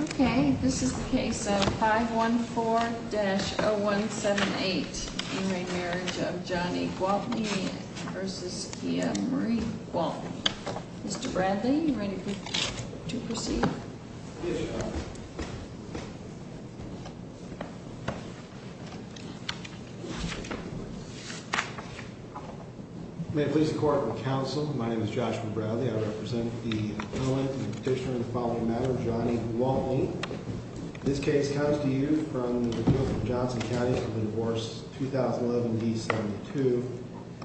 Okay, this is the case of 514-0178 in re Marriage of Johnny Gwaltney v. Kia Marie Gwaltney. Mr. Bradley, are you ready to proceed? Yes, Your Honor. May it please the Court and the Council, my name is Joshua Bradley. I represent the appellant and petitioner in the following matter, Johnny Gwaltney. This case comes to you from the Appeals of Johnson County for the divorce 2011-D-72.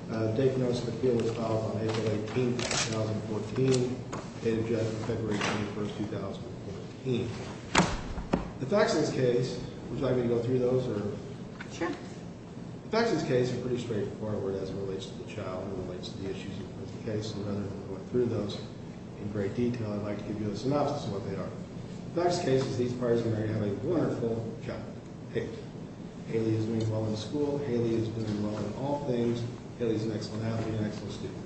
The date of notice of appeal was filed on April 18, 2014. The date of judgment is February 21, 2014. The facts of this case, would you like me to go through those? Sure. The facts of this case are pretty straightforward as it relates to the child. Okay, so rather than go through those in great detail, I'd like to give you a synopsis of what they are. The facts of this case is that these parties of marriage have a wonderful child. Hayley. Hayley has been doing well in school. Hayley has been doing well in all things. Hayley is an excellent athlete and an excellent student.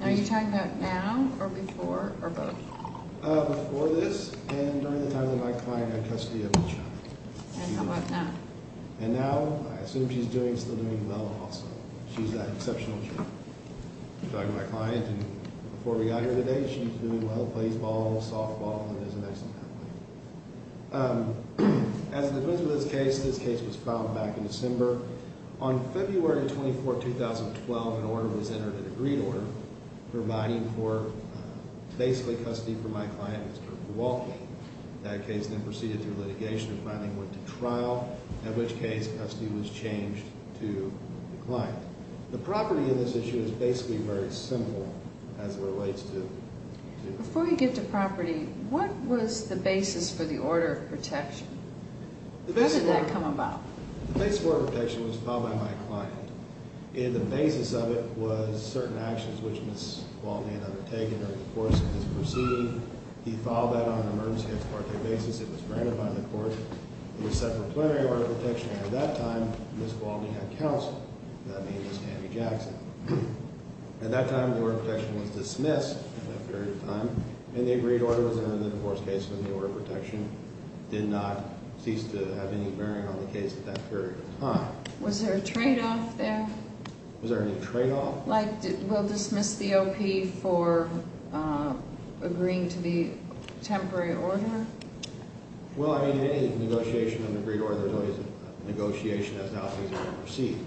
Are you talking about now or before or both? Before this and during the time that my client had custody of the child. And how about now? And now, I assume she's doing, still doing well also. She's an exceptional child. I'm talking about my client. And before we got here today, she's doing well, plays ball, softball, and is an excellent athlete. As it pertains to this case, this case was filed back in December. On February 24, 2012, an order was entered, an agreed order, providing for basically custody for my client, Mr. Walton. That case then proceeded through litigation and finally went to trial. In which case, custody was changed to the client. The property in this issue is basically very simple as it relates to... Before we get to property, what was the basis for the order of protection? Where did that come about? The basis for protection was filed by my client. And the basis of it was certain actions which Ms. Walton had undertaken during the course of his proceeding. He filed that on an emergency case court basis. It was granted by the court. It was set for plenary order of protection. And at that time, Ms. Walton had counsel, that being Ms. Tammy Jackson. At that time, the order of protection was dismissed in that period of time. And the agreed order was entered in the divorce case when the order of protection did not cease to have any bearing on the case at that period of time. Was there a trade-off there? Was there any trade-off? Like, we'll dismiss the OP for agreeing to the temporary order? Well, I mean, any negotiation of an agreed order is always a negotiation as to how things are going to proceed.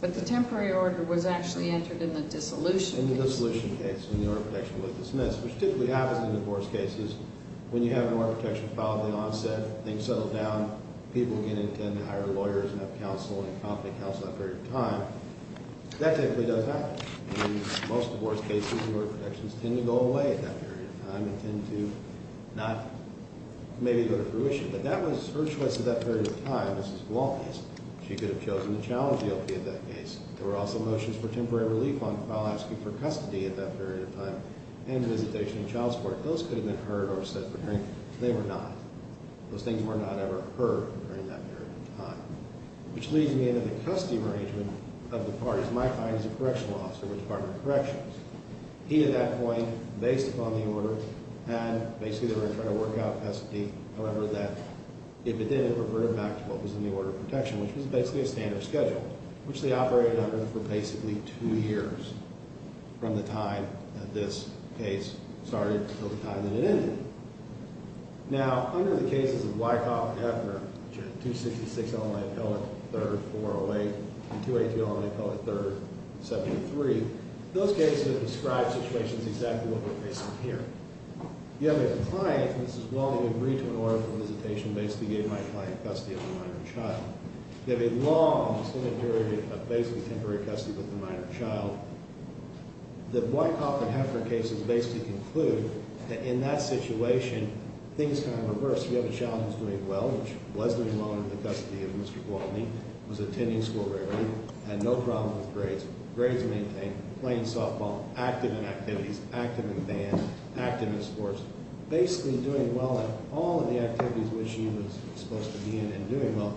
But the temporary order was actually entered in the dissolution case. In the dissolution case when the order of protection was dismissed, which typically happens in divorce cases. When you have an order of protection filed at the onset, things settle down, people again intend to hire lawyers and have counsel, that period of time, that typically does happen. In most divorce cases, the order of protections tend to go away at that period of time and tend to not maybe go to fruition. But that was her choice at that period of time, Ms. Walton's. She could have chosen to challenge the OP at that case. There were also motions for temporary relief while asking for custody at that period of time and visitation of child support. Those could have been heard or said for hearing. They were not. Those things were not ever heard during that period of time. Which leads me into the custody arrangement of the parties. My client is a correctional officer with the Department of Corrections. He, at that point, based upon the order, had, basically, they were going to try to work out a pestity. However, that, if it didn't, it reverted back to what was in the order of protection, which was basically a standard schedule, which they operated under for basically two years from the time that this case started until the time that it ended. Now, under the cases of Wyckoff and Heffner, which are 266 Illinois Appellate, 3rd, 408, and 282 Illinois Appellate, 3rd, 73, those cases have described situations exactly what we're facing here. You have a client, Ms. Walton, who agreed to an order for visitation, basically gave my client custody of the minor child. You have a long, extended period of basically temporary custody with the minor child. The Wyckoff and Heffner cases basically conclude that, in that situation, things kind of reversed. You have a child who's doing well, which was doing well under the custody of Mr. Walton. Was attending school regularly. Had no problem with grades. Grades maintained. Playing softball. Active in activities. Active in band. Active in sports. Basically doing well in all of the activities which he was supposed to be in and doing well.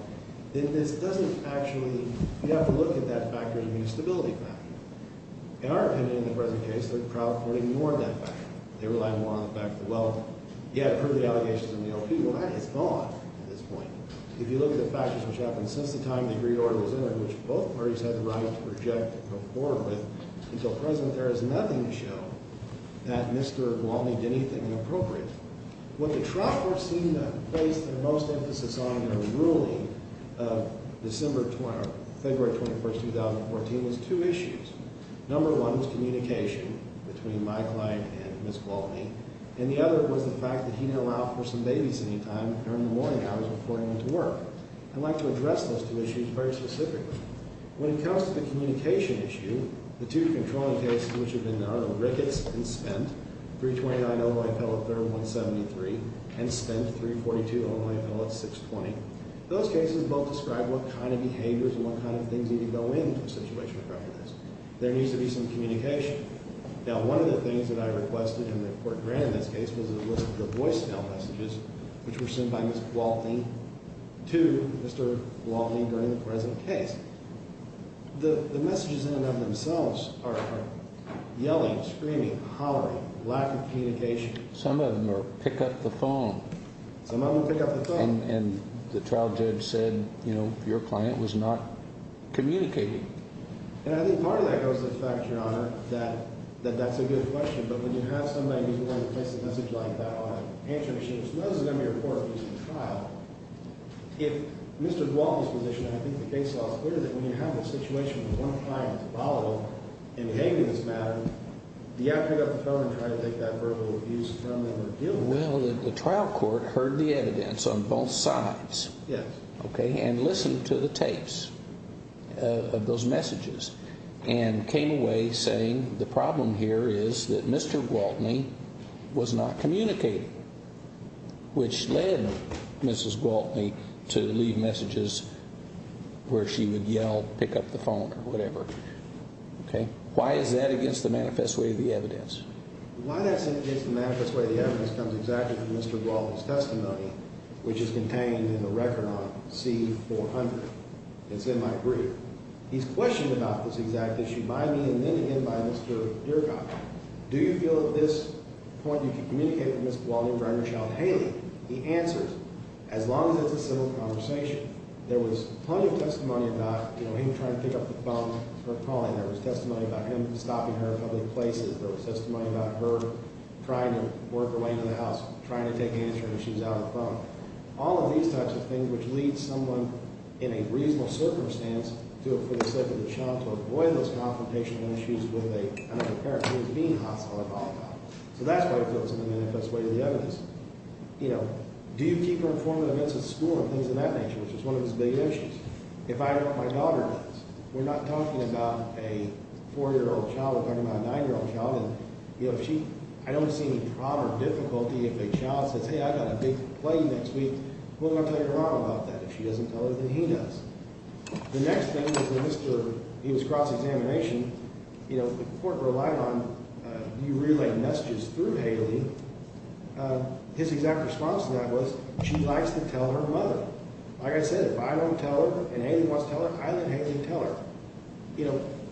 Then this doesn't actually – you have to look at that factor as a means of stability. In our opinion, in the present case, the trial court ignored that factor. They relied more on the fact that, well, yeah, I've heard the allegations in the O.P. Well, that is gone at this point. If you look at the factors which happened since the time the agreed order was entered, which both parties had the right to reject and conform with until present, there is nothing to show that Mr. Walton did anything inappropriate. What the trial court seemed to place their most emphasis on in their ruling of February 21, 2014, was two issues. Number one was communication between my client and Ms. Walton. And the other was the fact that he didn't allow for some babysitting time during the morning hours before he went to work. I'd like to address those two issues very specifically. When it comes to the communication issue, the two controlling cases which have been done, Ricketts and Spent, 329 Illinois Appeal at 3rd and 173, and Spent, 342 Illinois Appeal at 620, those cases both describe what kind of behaviors and what kind of things need to go in to a situation like this. There needs to be some communication. Now, one of the things that I requested and the court granted in this case was the voicemail messages which were sent by Ms. Walton to Mr. Walton during the present case. The messages in and of themselves are yelling, screaming, hollering, lack of communication. Some of them are pick up the phone. Some of them pick up the phone. And the trial judge said, you know, your client was not communicating. And I think part of that goes to the fact, Your Honor, that that's a good question. But when you have somebody who's willing to place a message like that on a answering machine, if Mr. Walton's position, and I think the case law is clear, that when you have a situation where one client is volatile in behaving in this matter, do you have to pick up the phone and try to take that verbal abuse from them or deal with it? Well, the trial court heard the evidence on both sides. Yes. Okay, and listened to the tapes of those messages and came away saying the problem here is that Mr. Gwaltney was not communicating, which led Mrs. Gwaltney to leave messages where she would yell, pick up the phone or whatever. Okay? Why is that against the manifest way of the evidence? Why that's against the manifest way of the evidence comes exactly from Mr. Gwaltney's testimony, which is contained in the record on C-400. It's in my brief. He's questioned about this exact issue by me and then again by Mr. Dierkoff. Do you feel at this point you can communicate with Mrs. Gwaltney and bring her child to Haley? He answers. As long as it's a civil conversation. There was plenty of testimony about him trying to pick up the phone, her calling. There was testimony about him stopping her in public places. There was testimony about her trying to work her way into the house, trying to take answers when she's out on the phone. All of these types of things, which leads someone in a reasonable circumstance to a pretty significant shot to avoid those confrontational issues with a parent who is being hostile at all times. So that's why it goes in the manifest way of the evidence. You know, do you keep her informed of events at school and things of that nature, which is one of his big issues? If I wrote my daughter notes, we're not talking about a 4-year-old child. We're talking about a 9-year-old child. I don't see any problem or difficulty if a child says, hey, I've got a big play next week. What am I going to tell your mom about that? If she doesn't tell her, then he does. The next thing is when he was cross-examination, the court relied on do you relay messages through Haley? His exact response to that was she likes to tell her mother. Like I said, if I don't tell her and Haley wants to tell her, I let Haley tell her.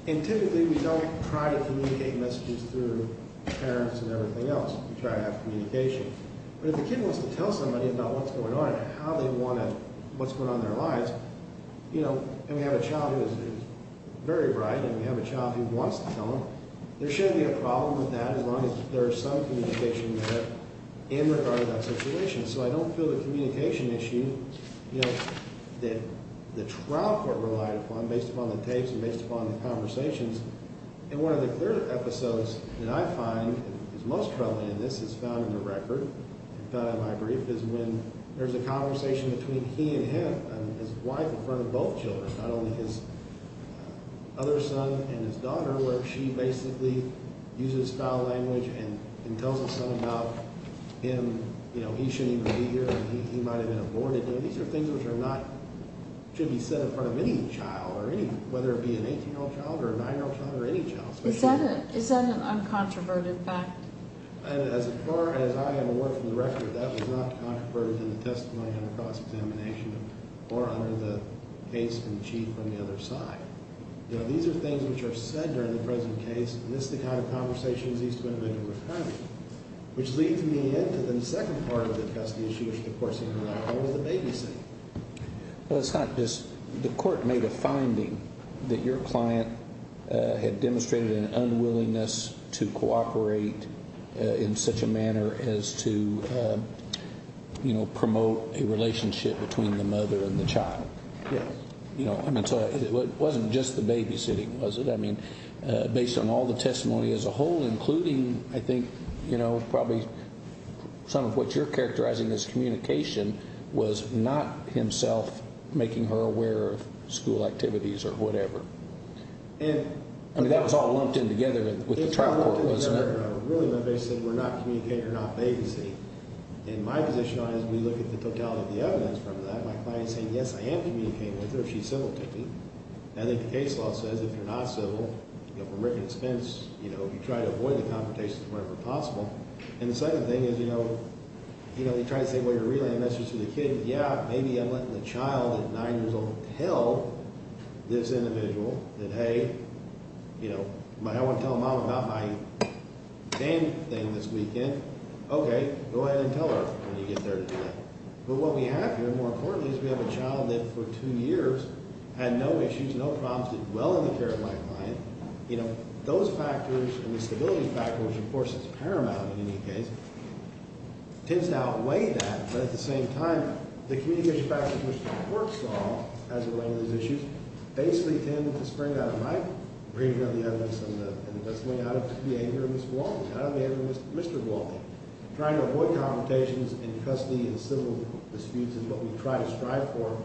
And typically we don't try to communicate messages through parents and everything else. We try to have communication. But if a kid wants to tell somebody about what's going on and how they want to, what's going on in their lives, and we have a child who is very bright and we have a child who wants to tell them, there shouldn't be a problem with that as long as there is some communication there in regard to that situation. So I don't feel the communication issue that the trial court relied upon based upon the tapes and based upon the conversations. And one of the clear episodes that I find is most troubling in this is found in the record, found in my brief, is when there's a conversation between he and him and his wife in front of both children, not only his other son and his daughter where she basically uses foul language and tells his son about him. You know, he shouldn't even be here and he might have been aborted. These are things which are not, should be said in front of any child, whether it be an 18-year-old child or a 9-year-old child or any child. Is that an uncontroverted fact? As far as I am aware from the record, that was not controverted in the testimony under cross-examination or under the case from the other side. You know, these are things which are said during the present case. And this is the kind of conversations he's been making with Connie, which leads me into the second part of the custody issue which the court said relied upon was the babysitting. It's not just the court made a finding that your client had demonstrated an unwillingness to cooperate in such a manner as to, you know, promote a relationship between the mother and the child. Yes. You know, I mean, so it wasn't just the babysitting, was it? I mean, based on all the testimony as a whole, including, I think, you know, probably some of what you're characterizing as communication was not himself making her aware of school activities or whatever. I mean, that was all lumped in together with the trial court, wasn't it? It was all lumped in together. Really, my babysitter said, we're not communicating, you're not babysitting. In my position, as we look at the totality of the evidence from that, my client is saying, yes, I am communicating with her. She's civil to me. I think the case law says if you're not civil, you know, from written expense, you know, you try to avoid the confrontations whenever possible. And the second thing is, you know, you try to say, well, you're relaying a message to the kid. Yeah, maybe I'm letting the child at 9 years old tell this individual that, hey, you know, I want to tell mom about my game thing this weekend. Okay, go ahead and tell her when you get there to do that. But what we have here, more importantly, is we have a child that for two years had no issues, no problems, did well in the care of my client. You know, those factors and the stability factors, which, of course, is paramount in any case, tends to outweigh that, but at the same time, the communication factors which the court saw as it related to these issues basically tend to spring out of my reading of the evidence and the best way out of the behavior of Ms. Walton, out of the behavior of Mr. Walton. Trying to avoid confrontations in custody and civil disputes is what we try to strive for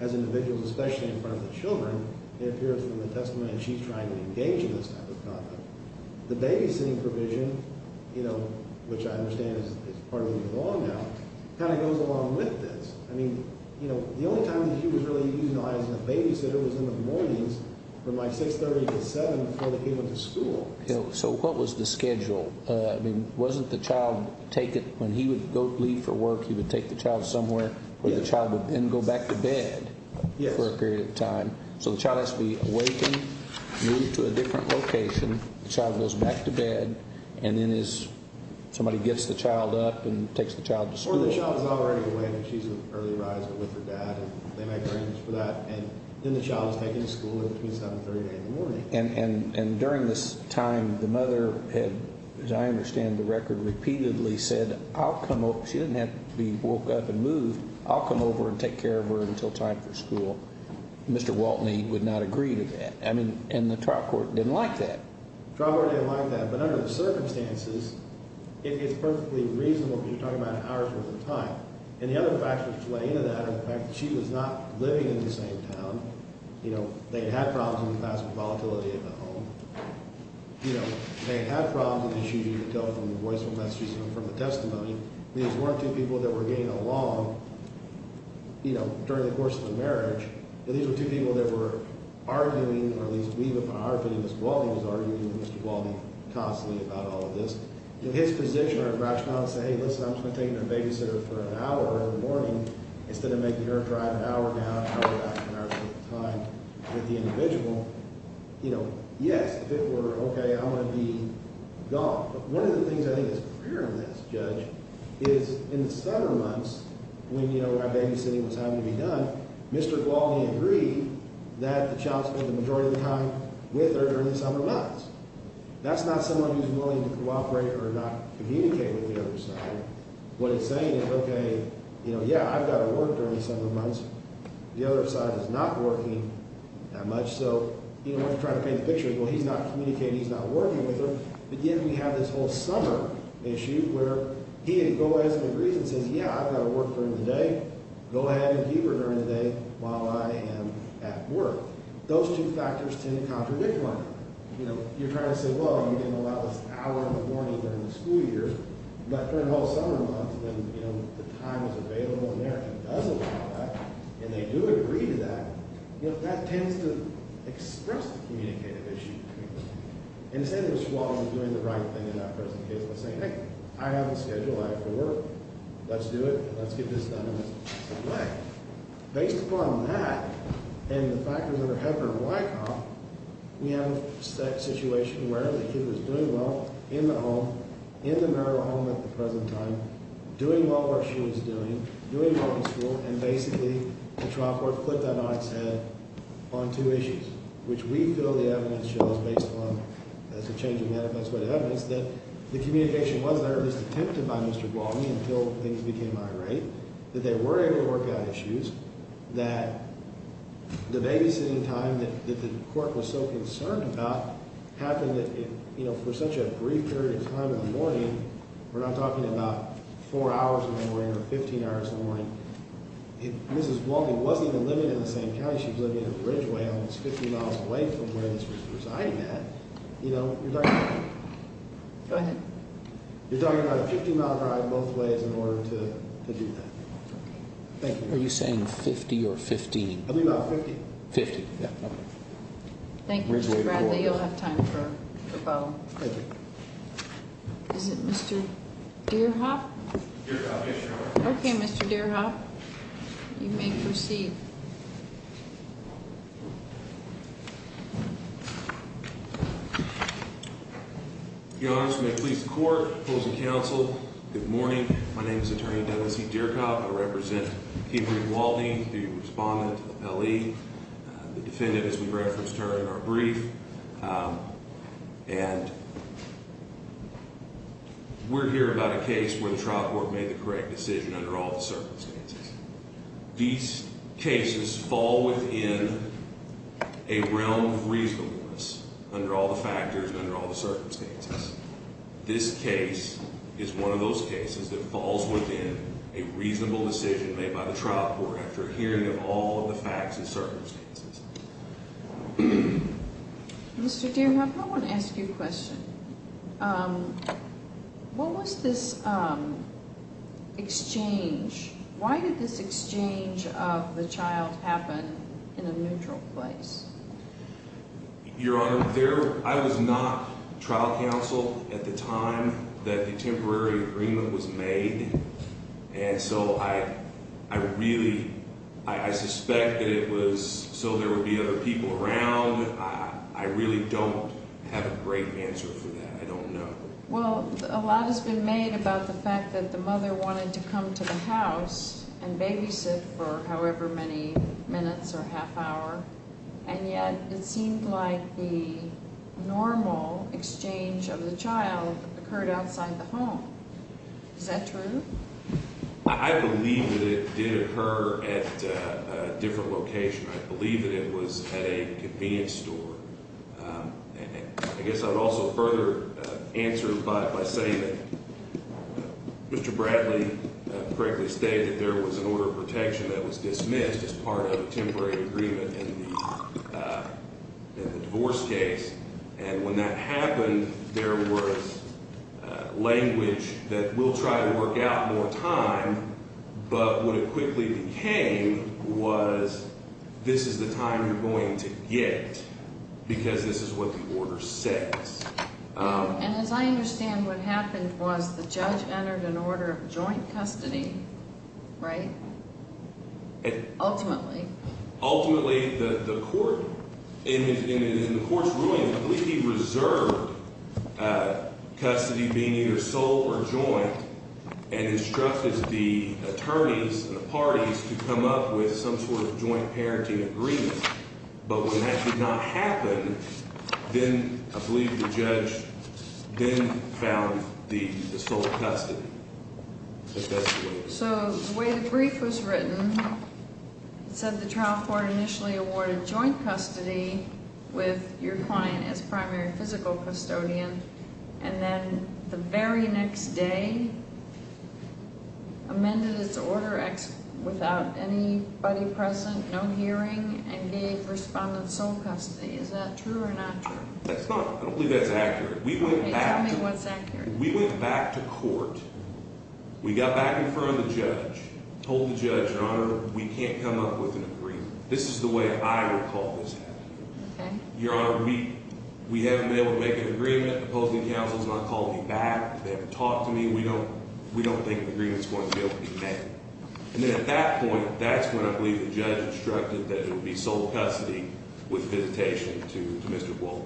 as individuals, especially in front of the children. It appears in the testimony that she's trying to engage in this type of conduct. The babysitting provision, you know, which I understand is part of the law now, kind of goes along with this. I mean, you know, the only time that she was really utilizing a babysitter was in the mornings from like 630 to 7 before they came into school. So what was the schedule? I mean, wasn't the child take it when he would leave for work, he would take the child somewhere where the child would then go back to bed for a period of time. So the child has to be awakened, moved to a different location. The child goes back to bed, and then somebody gets the child up and takes the child to school. Or the child is already awake and she's in early arisal with her dad, and they make arrangements for that, and then the child is taken to school at between 730 and 8 in the morning. And during this time, the mother had, as I understand the record, repeatedly said, I'll come over. She didn't have to be woke up and moved. I'll come over and take care of her until time for school. Mr. Waltney would not agree to that. I mean, and the trial court didn't like that. The trial court didn't like that, but under the circumstances, it's perfectly reasonable because you're talking about an hour's worth of time. And the other factors that play into that are the fact that she was not living in the same town. You know, they had problems in the past with volatility of the home. You know, they had problems with issues you could tell from the voice or messages from the testimony. These weren't two people that were getting along, you know, during the course of the marriage. These were two people that were arguing, or at least we would put our opinion, Mr. Waltney was arguing with Mr. Waltney constantly about all of this. His position or rationale is to say, hey, listen, I'm just going to take your babysitter for an hour in the morning instead of making her drive an hour and a half, hour and a half, an hour's worth of time with the individual. You know, yes, if it were okay, I'm going to be gone. But one of the things I think is clear on this, Judge, is in the summer months, when, you know, our babysitting was having to be done, Mr. Waltney agreed that the child spent the majority of the time with her during the summer months. That's not someone who's willing to cooperate or not communicate with the other side. What he's saying is, okay, you know, yeah, I've got to work during the summer months. The other side is not working that much. So, you know, what he's trying to paint the picture is, well, he's not communicating. He's not working with her. But yet we have this whole summer issue where he can go ahead and agree and say, yeah, I've got to work during the day. Go ahead and keep her during the day while I am at work. Those two factors tend to contradict one another. You know, you're trying to say, well, you didn't allow us an hour in the morning during the school year. But during the whole summer months, then, you know, the time is available in there. If he doesn't allow that and they do agree to that, you know, that tends to express the communicative issue. And instead of Ms. Waltney doing the right thing in that person's case by saying, hey, I have a schedule. I have to work. Let's do it. Let's get this done in the same way. Based upon that and the factors that are happening in Wycombe, we have a situation where the kid was doing well in the home, in the marital home at the present time, doing well where she was doing, doing well in school, and basically the trial court put that on its head on two issues, which we feel the evidence shows based on, as a change of matter, that's what evidence, that the communication was there. It was attempted by Mr. Waltney until things became irate. That they were able to work out issues that the babysitting time that the court was so concerned about happened, you know, for such a brief period of time in the morning. We're not talking about four hours in the morning or 15 hours in the morning. If Mrs. Waltney wasn't even living in the same county, she was living in a bridgeway almost 50 miles away from where this was presiding at. You know, you're talking about a 50-mile drive both ways in order to do that. Are you saying 50 or 15? I think about 50. 50, yeah. Thank you, Mr. Bradley. You'll have time for a follow-up. Thank you. Is it Mr. Deerhoff? Deerhoff, yes, Your Honor. Okay, Mr. Deerhoff, you may proceed. Your Honor, I just want to please the court, opposing counsel, good morning. My name is Attorney Dennis E. Deerhoff. I represent Kimberly Waltney, the respondent to the Pelley. The defendant, as we referenced her in our brief. And we're here about a case where the trial court made the correct decision under all the circumstances. These cases fall within a realm of reasonableness under all the factors and under all the circumstances. This case is one of those cases that falls within a reasonable decision made by the trial court after hearing of all the facts and circumstances. Mr. Deerhoff, I want to ask you a question. What was this exchange? Why did this exchange of the child happen in a neutral place? Your Honor, I was not trial counsel at the time that the temporary agreement was made. And so I really, I suspect that it was so there would be other people around. I really don't have a great answer for that. I don't know. Well, a lot has been made about the fact that the mother wanted to come to the house and babysit for however many minutes or half hour. And yet it seemed like the normal exchange of the child occurred outside the home. Is that true? I believe that it did occur at a different location. I believe that it was at a convenience store. I guess I would also further answer by saying that Mr. Bradley correctly stated there was an order of protection that was dismissed as part of a temporary agreement in the divorce case. And when that happened, there was language that we'll try to work out more time. But what it quickly became was this is the time you're going to get because this is what the order says. And as I understand, what happened was the judge entered an order of joint custody, right? Ultimately. Ultimately, the court in the court's ruling, I believe he reserved custody being either sole or joint and instructed the attorneys and the parties to come up with some sort of joint parenting agreement. But when that did not happen, then I believe the judge then found the sole custody. So the way the brief was written, it said the trial court initially awarded joint custody with your client as primary physical custodian. And then the very next day amended its order without anybody present, no hearing, and gave respondents sole custody. Is that true or not true? I don't believe that's accurate. Tell me what's accurate. We went back to court. We got back in front of the judge, told the judge, Your Honor, we can't come up with an agreement. This is the way I recall this happening. Your Honor, we haven't been able to make an agreement. The opposing counsel has not called me back. They haven't talked to me. We don't think an agreement's going to be able to be made. And then at that point, that's when I believe the judge instructed that there would be sole custody with visitation to Mr. Wolfe.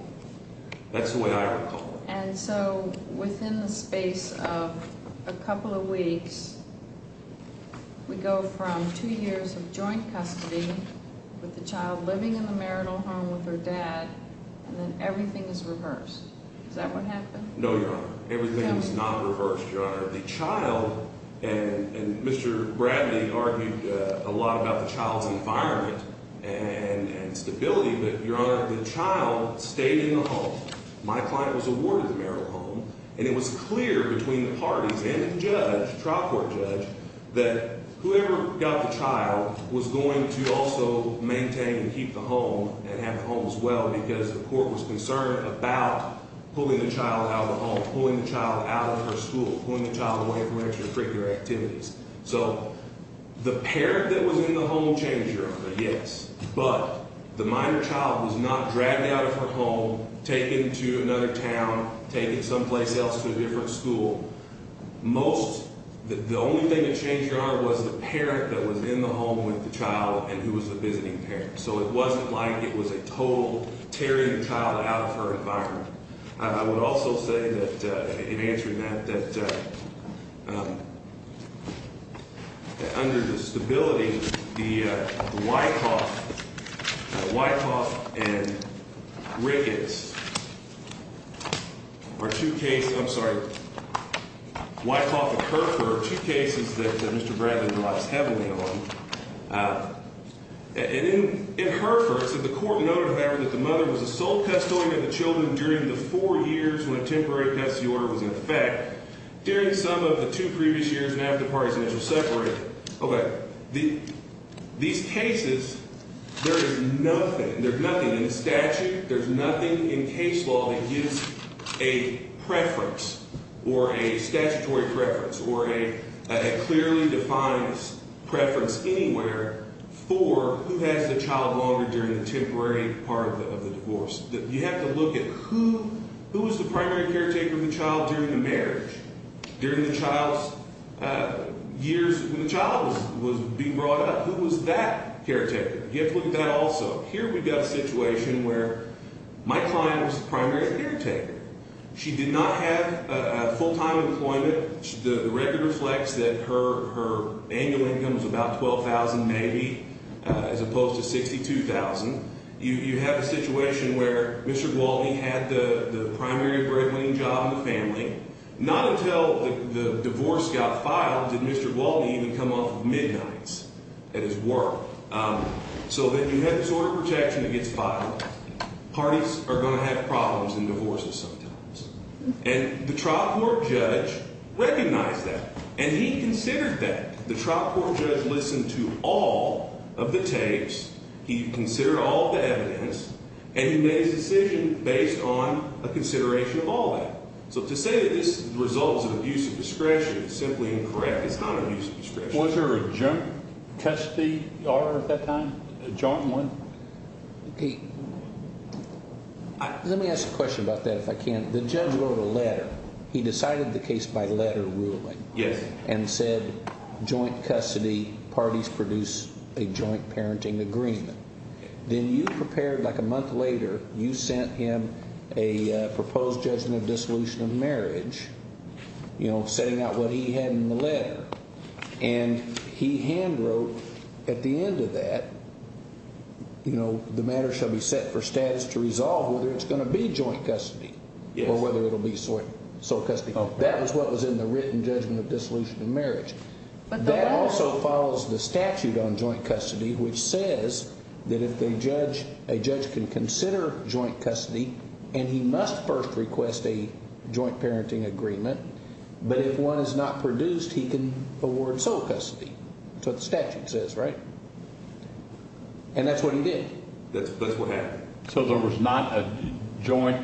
That's the way I recall it. And so within the space of a couple of weeks, we go from two years of joint custody with the child living in the marital home with her dad, and then everything is reversed. Is that what happened? No, Your Honor. Everything is not reversed, Your Honor. The child, and Mr. Bradley argued a lot about the child's environment and stability, but, Your Honor, the child stayed in the home. My client was awarded the marital home. And it was clear between the parties and the judge, trial court judge, that whoever got the child was going to also maintain and keep the home and have the home as well, because the court was concerned about pulling the child out of the home, pulling the child out of her school, pulling the child away from extracurricular activities. So the parent that was in the home changed, Your Honor, yes. But the minor child was not dragged out of her home, taken to another town, taken someplace else to a different school. Most, the only thing that changed, Your Honor, was the parent that was in the home with the child and who was the visiting parent. So it wasn't like it was a total tearing the child out of her environment. I would also say that, in answering that, that under the stability, the Wyckoff and Ricketts are two cases, I'm sorry, Wyckoff and Herford are two cases that Mr. Bradley relies heavily on. And in Herford, the court noted, however, that the mother was the sole custodian of the children during the four years when a temporary custody order was in effect, during some of the two previous years and after parties initially separated. Okay. These cases, there is nothing, there's nothing in the statute, there's nothing in case law that gives a preference or a statutory preference or a clearly defined preference anywhere for who has the child longer during the temporary part of the divorce. You have to look at who was the primary caretaker of the child during the marriage, during the child's years when the child was being brought up. Who was that caretaker? You have to look at that also. Here we've got a situation where my client was the primary caretaker. She did not have full-time employment. The record reflects that her annual income was about $12,000 maybe as opposed to $62,000. You have a situation where Mr. Gwaltney had the primary bread-winning job in the family. Not until the divorce got filed did Mr. Gwaltney even come off of midnights at his work. So then you have disorder protection that gets filed. Parties are going to have problems in divorces sometimes. And the trial court judge recognized that. And he considered that. The trial court judge listened to all of the tapes. He considered all of the evidence. And he made his decision based on a consideration of all that. So to say that this is the result of abuse of discretion is simply incorrect. It's not abuse of discretion. Was there a joint custody order at that time? A joint one? Let me ask a question about that if I can. The judge wrote a letter. He decided the case by letter ruling. Yes. And said joint custody parties produce a joint parenting agreement. Then you prepared like a month later, you sent him a proposed judgment of dissolution of marriage, setting out what he had in the letter. And he hand wrote at the end of that, the matter shall be set for status to resolve whether it's going to be joint custody or whether it will be sole custody. That was what was in the written judgment of dissolution of marriage. But that also follows the statute on joint custody, which says that if a judge can consider joint custody and he must first request a joint parenting agreement, but if one is not produced, he can award sole custody. That's what the statute says, right? And that's what he did. That's what happened. So there was not a joint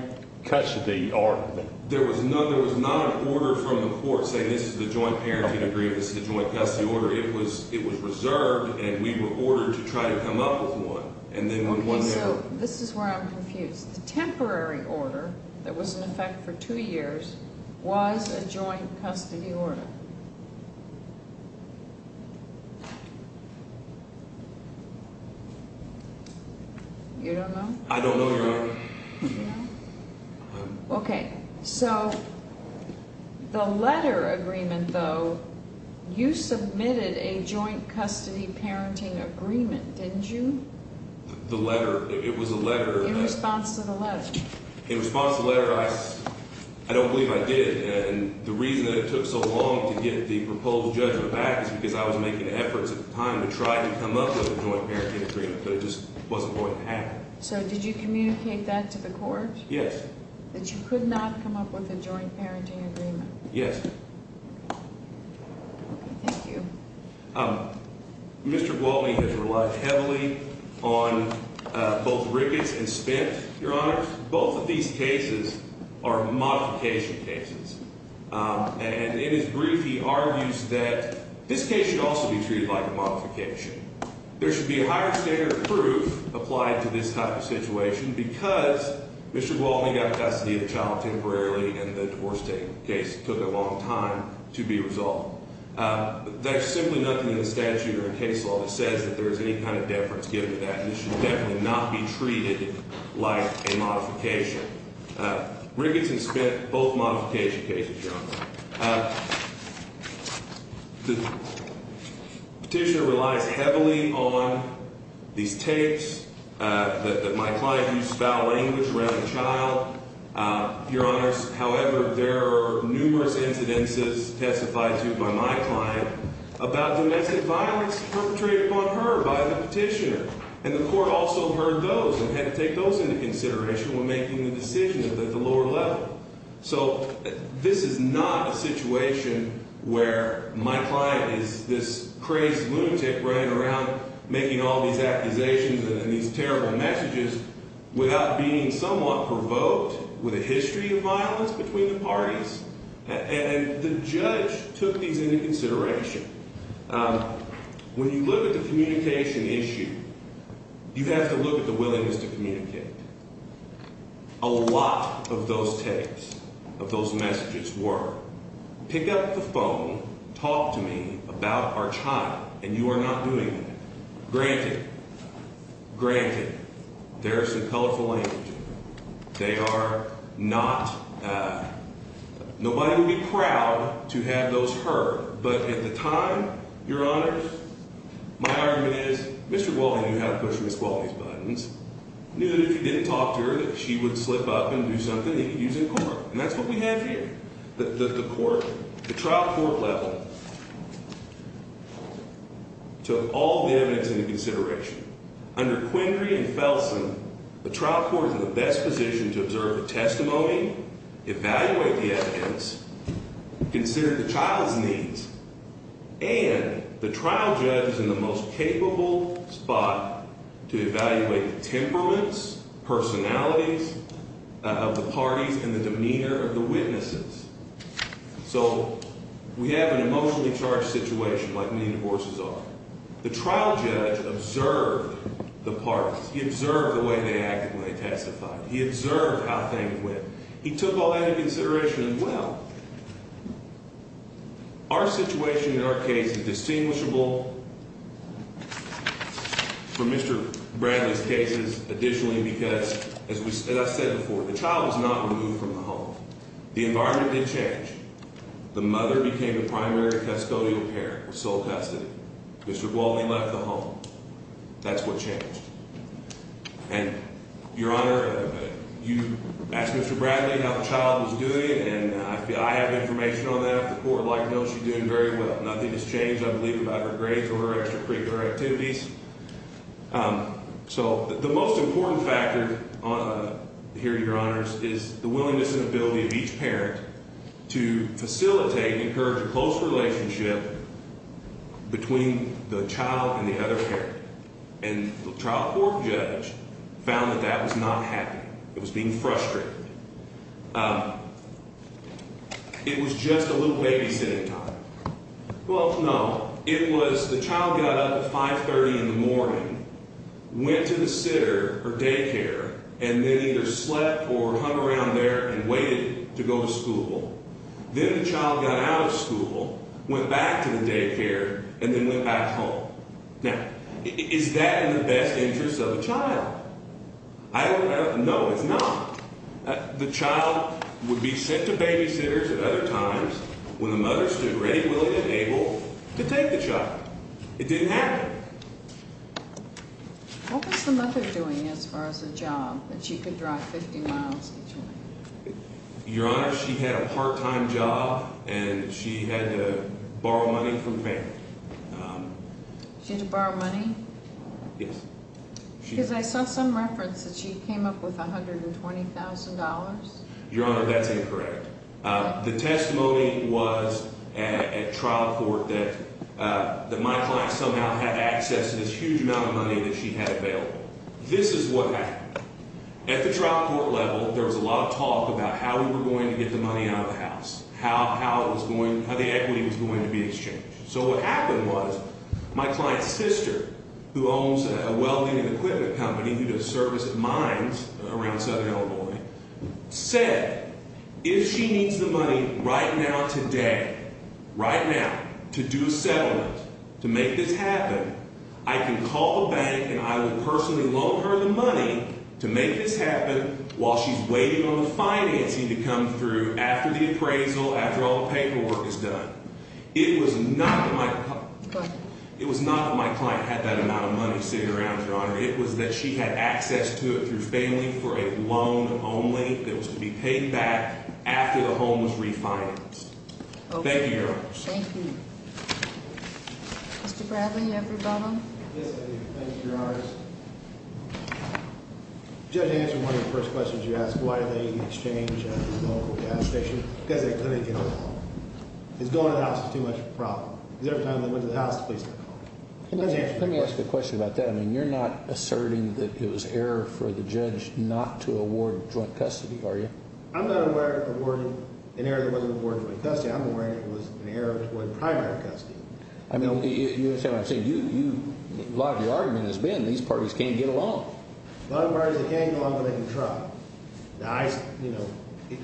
custody order? There was not an order from the court saying this is the joint parenting agreement, this is the joint custody order. It was reserved and we were ordered to try to come up with one. Okay, so this is where I'm confused. The temporary order that was in effect for two years was a joint custody order. You don't know? I don't know, Your Honor. Okay, so the letter agreement, though, you submitted a joint custody parenting agreement, didn't you? The letter, it was a letter. In response to the letter. In response to the letter, I don't believe I did. And the reason that it took so long to get the proposed judgment back is because I was making efforts at the time to try to come up with a joint parenting agreement, but it just wasn't going to happen. So did you communicate that to the court? Yes. That you could not come up with a joint parenting agreement? Yes. Thank you. Mr. Gwaltney has relied heavily on both Ricketts and Spence, Your Honor. Both of these cases are modification cases. And in his brief, he argues that this case should also be treated like a modification. There should be a higher standard of proof applied to this type of situation because Mr. Gwaltney got custody of the child temporarily and the divorce case took a long time to be resolved. There's simply nothing in the statute or in case law that says that there is any kind of deference given to that. This should definitely not be treated like a modification. Ricketts and Spence, both modification cases, Your Honor. The petitioner relies heavily on these tapes that my client used foul language around the child. Your Honors, however, there are numerous incidences testified to by my client about domestic violence perpetrated upon her by the petitioner. And the court also heard those and had to take those into consideration when making the decision at the lower level. So this is not a situation where my client is this crazy lunatic running around making all these accusations and these terrible messages without being somewhat provoked with a history of violence between the parties. And the judge took these into consideration. When you look at the communication issue, you have to look at the willingness to communicate. A lot of those tapes, of those messages were, pick up the phone, talk to me about our child, and you are not doing that. Granted, granted, there is some colorful language in there. They are not, nobody would be proud to have those heard. But at the time, Your Honors, my argument is, Mr. Gualdi knew how to push Ms. Gualdi's buttons. He knew that if he didn't talk to her, that she would slip up and do something that he could use in court. And that's what we have here. The court, the trial court level, took all the evidence into consideration. Under Quindrey and Felsen, the trial court is in the best position to observe the testimony, evaluate the evidence, consider the child's needs, and the trial judge is in the most capable spot to evaluate the temperaments, personalities of the parties, and the demeanor of the witnesses. So we have an emotionally charged situation like many divorces are. The trial judge observed the parties. He observed the way they acted when they testified. He observed how things went. He took all that into consideration as well. Our situation in our case is distinguishable from Mr. Bradley's cases, additionally, because, as I said before, the child was not removed from the home. The environment did change. The mother became the primary custodial parent with sole custody. Mr. Gualdi left the home. That's what changed. And, Your Honor, you asked Mr. Bradley how the child was doing, and I have information on that. The court like knows she's doing very well. Nothing has changed, I believe, about her grades or her extracurricular activities. So the most important factor here, Your Honors, is the willingness and ability of each parent to facilitate and encourage a close relationship between the child and the other parent. And the trial court judge found that that was not happening. It was being frustrated. It was just a little babysitting time. Well, no. It was the child got up at 5.30 in the morning, went to the sitter or daycare, and then either slept or hung around there and waited to go to school. Then the child got out of school, went back to the daycare, and then went back home. Now, is that in the best interest of the child? I don't know. No, it's not. The child would be sent to babysitters at other times when the mother stood ready, willing, and able to take the child. It didn't happen. What was the mother doing as far as a job that she could drive 50 miles each way? Your Honor, she had a part-time job, and she had to borrow money from family. She had to borrow money? Yes. Because I saw some reference that she came up with $120,000. Your Honor, that's incorrect. The testimony was at trial court that my client somehow had access to this huge amount of money that she had available. This is what happened. At the trial court level, there was a lot of talk about how we were going to get the money out of the house, how the equity was going to be exchanged. So what happened was my client's sister, who owns a welding and equipment company who does service at mines around Southern Illinois, said, if she needs the money right now, today, right now, to do a settlement, to make this happen, I can call the bank, and I will personally loan her the money to make this happen while she's waiting on the financing to come through after the appraisal, after all the paperwork is done. It was not that my client had that amount of money sitting around, Your Honor. It was that she had access to it through family for a loan only that was to be paid back after the home was refinanced. Thank you, Your Honor. Thank you. Mr. Bradley, you have a rebuttal? Yes, I do. Thank you, Your Honor. Judge, answering one of the first questions you asked, why did they exchange the local gas station? Because they couldn't get along. Because going to the house is too much of a problem. Because every time they went to the house, the police would come. Let me ask a question about that. I mean, you're not asserting that it was error for the judge not to award joint custody, are you? I'm not aware of an error that wasn't awarded joint custody. I'm aware that it was an error to award primary custody. I mean, you understand what I'm saying. A lot of the argument has been these parties can't get along. A lot of parties, they can't get along because they can try. You know,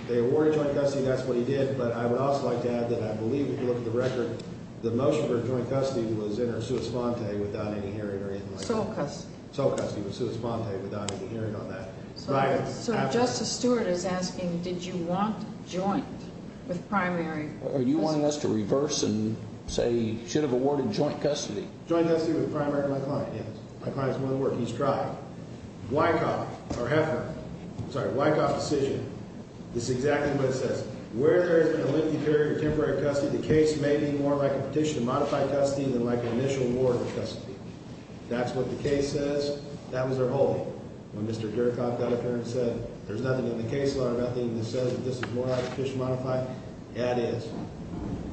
they awarded joint custody, and that's what he did. But I would also like to add that I believe, if you look at the record, the motion for joint custody was in her sua sponte without any hearing or anything like that. Sole custody. Sole custody with sua sponte without any hearing on that. So Justice Stewart is asking, did you want joint with primary? Are you wanting us to reverse and say he should have awarded joint custody? Joint custody with primary, my client, yes. My client is one of the workers. He's trying. Wyckoff or Heffner, sorry, Wyckoff decision is exactly what it says. Where there is a lengthy period of temporary custody, the case may be more like a petition to modify custody than like an initial award of custody. That's what the case says. That was their whole. When Mr. Gerakoff, that attorney, said there's nothing in the case law or nothing that says that this is more like a petition to modify, that is.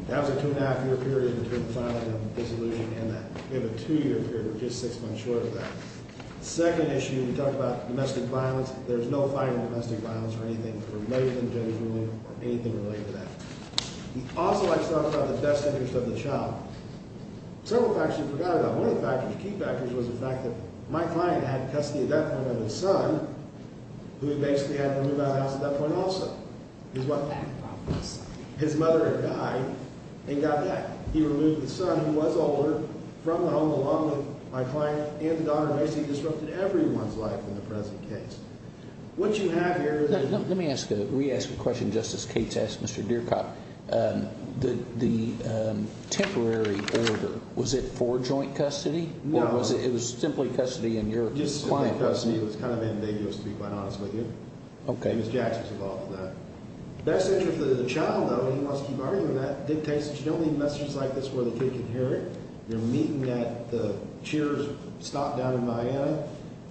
That was a two-and-a-half-year period between the filing of the dissolution and that. We have a two-year period. We're just six months short of that. Second issue, we talked about domestic violence. There's no fighting domestic violence or anything related to the judge's ruling or anything related to that. He also likes to talk about the best interest of the child. Several factors he forgot about. One of the factors, key factors, was the fact that my client had custody at that point of his son, who he basically had removed out of the house at that point also. His what? His mother had died and got back. He removed his son, who was older, from the home along with my client and the daughter. Basically, he disrupted everyone's life in the present case. What you have here is... Let me ask a re-asked question. Justice Cates asked Mr. Gerakoff. The temporary order, was it for joint custody? No. Or was it simply custody in your client? Just simply custody. It was kind of endangered to be quite honest with you. Okay. Ms. Jackson was involved in that. Best interest of the child, though, and he wants to keep arguing that, dictates that you don't leave messages like this where the kid can hear it. You're meeting at the Cheers stop down in Miami.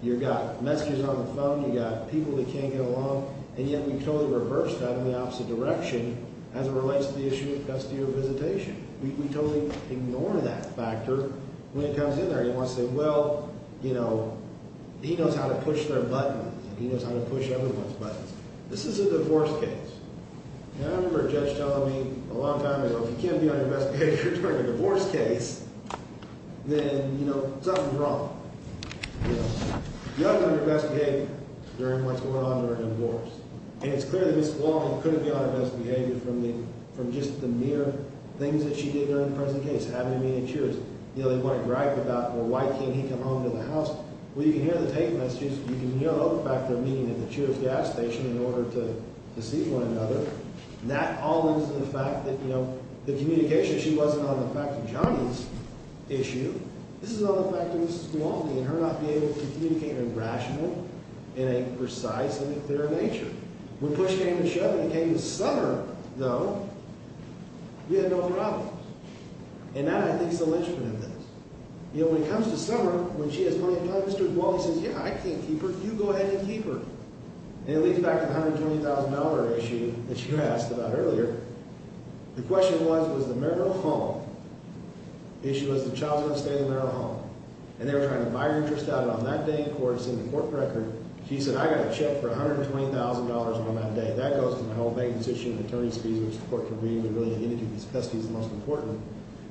You've got messages on the phone. You've got people that can't get along. And yet we totally reversed that in the opposite direction as it relates to the issue of custodial visitation. We totally ignore that factor when it comes in there. You want to say, well, you know, he knows how to push their buttons. He knows how to push everyone's buttons. This is a divorce case. I remember a judge telling me a long time ago, if you can't be on your best behavior during a divorce case, then, you know, something's wrong. You have to be on your best behavior during what's going on during a divorce. And it's clear that Ms. Walling couldn't be on her best behavior from just the mere things that she did during the present case, having a meeting at Cheers. You know, they want to brag about, well, why can't he come home to the house? Well, you can hear the tape messages. You can hear another factor of meeting at the Cheers gas station in order to deceive one another. That all lends to the fact that, you know, the communication issue wasn't on the fact of Johnny's issue. This is on the fact of Ms. Walling and her not being able to communicate rationally in a precise and clear nature. When push came to shove and it came to Summer, though, we had no problems. And that, I think, is the linchpin of this. You know, when it comes to Summer, when she has money in her pocket, Mr. Walling says, yeah, I can't keep her. You go ahead and keep her. And it leads back to the $120,000 issue that you asked about earlier. The question was, was the marital home issue. It was the childhood stay in the marital home. And they were trying to buy her interest out. And on that day in court, it's in the court record, she said, I got a check for $120,000 on that day. That goes to my whole bank decision and attorney's fees, which the court convened to really identify these festivities as the most important.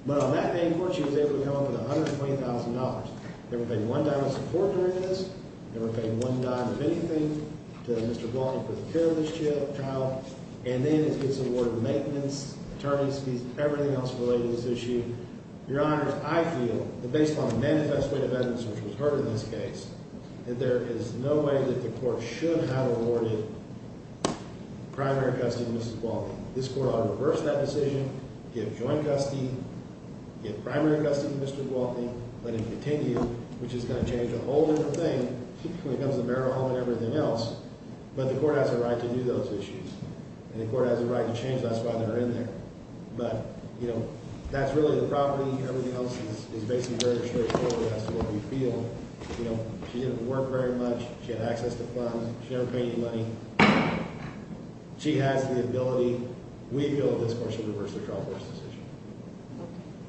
But on that day in court, she was able to come up with $120,000. Never paid one dime of support during this. Never paid one dime of anything to Mr. Walling for the care of this child. And then it gets awarded maintenance, attorney's fees, everything else related to this issue. Your Honors, I feel that based on the manifest weight of evidence, which was heard in this case, that there is no way that the court should have awarded primary custody to Mrs. Walling. This court ought to reverse that decision, give joint custody, give primary custody to Mr. Walling, let him continue, which is going to change a whole different thing when it comes to the marital home and everything else. But the court has a right to do those issues. And the court has a right to change that. That's why they're in there. But, you know, that's really the property. Everything else is basically very straightforward as to what we feel. You know, she didn't work very much. She had access to funds. She never paid any money. She has the ability. We feel this court should reverse the child birth decision.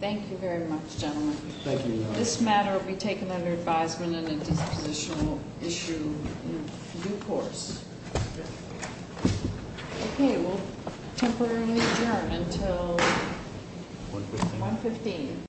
Thank you very much, gentlemen. Thank you, Your Honors. This matter will be taken under advisement and a dispositional issue in due course. Okay, we'll temporarily adjourn until 1.15.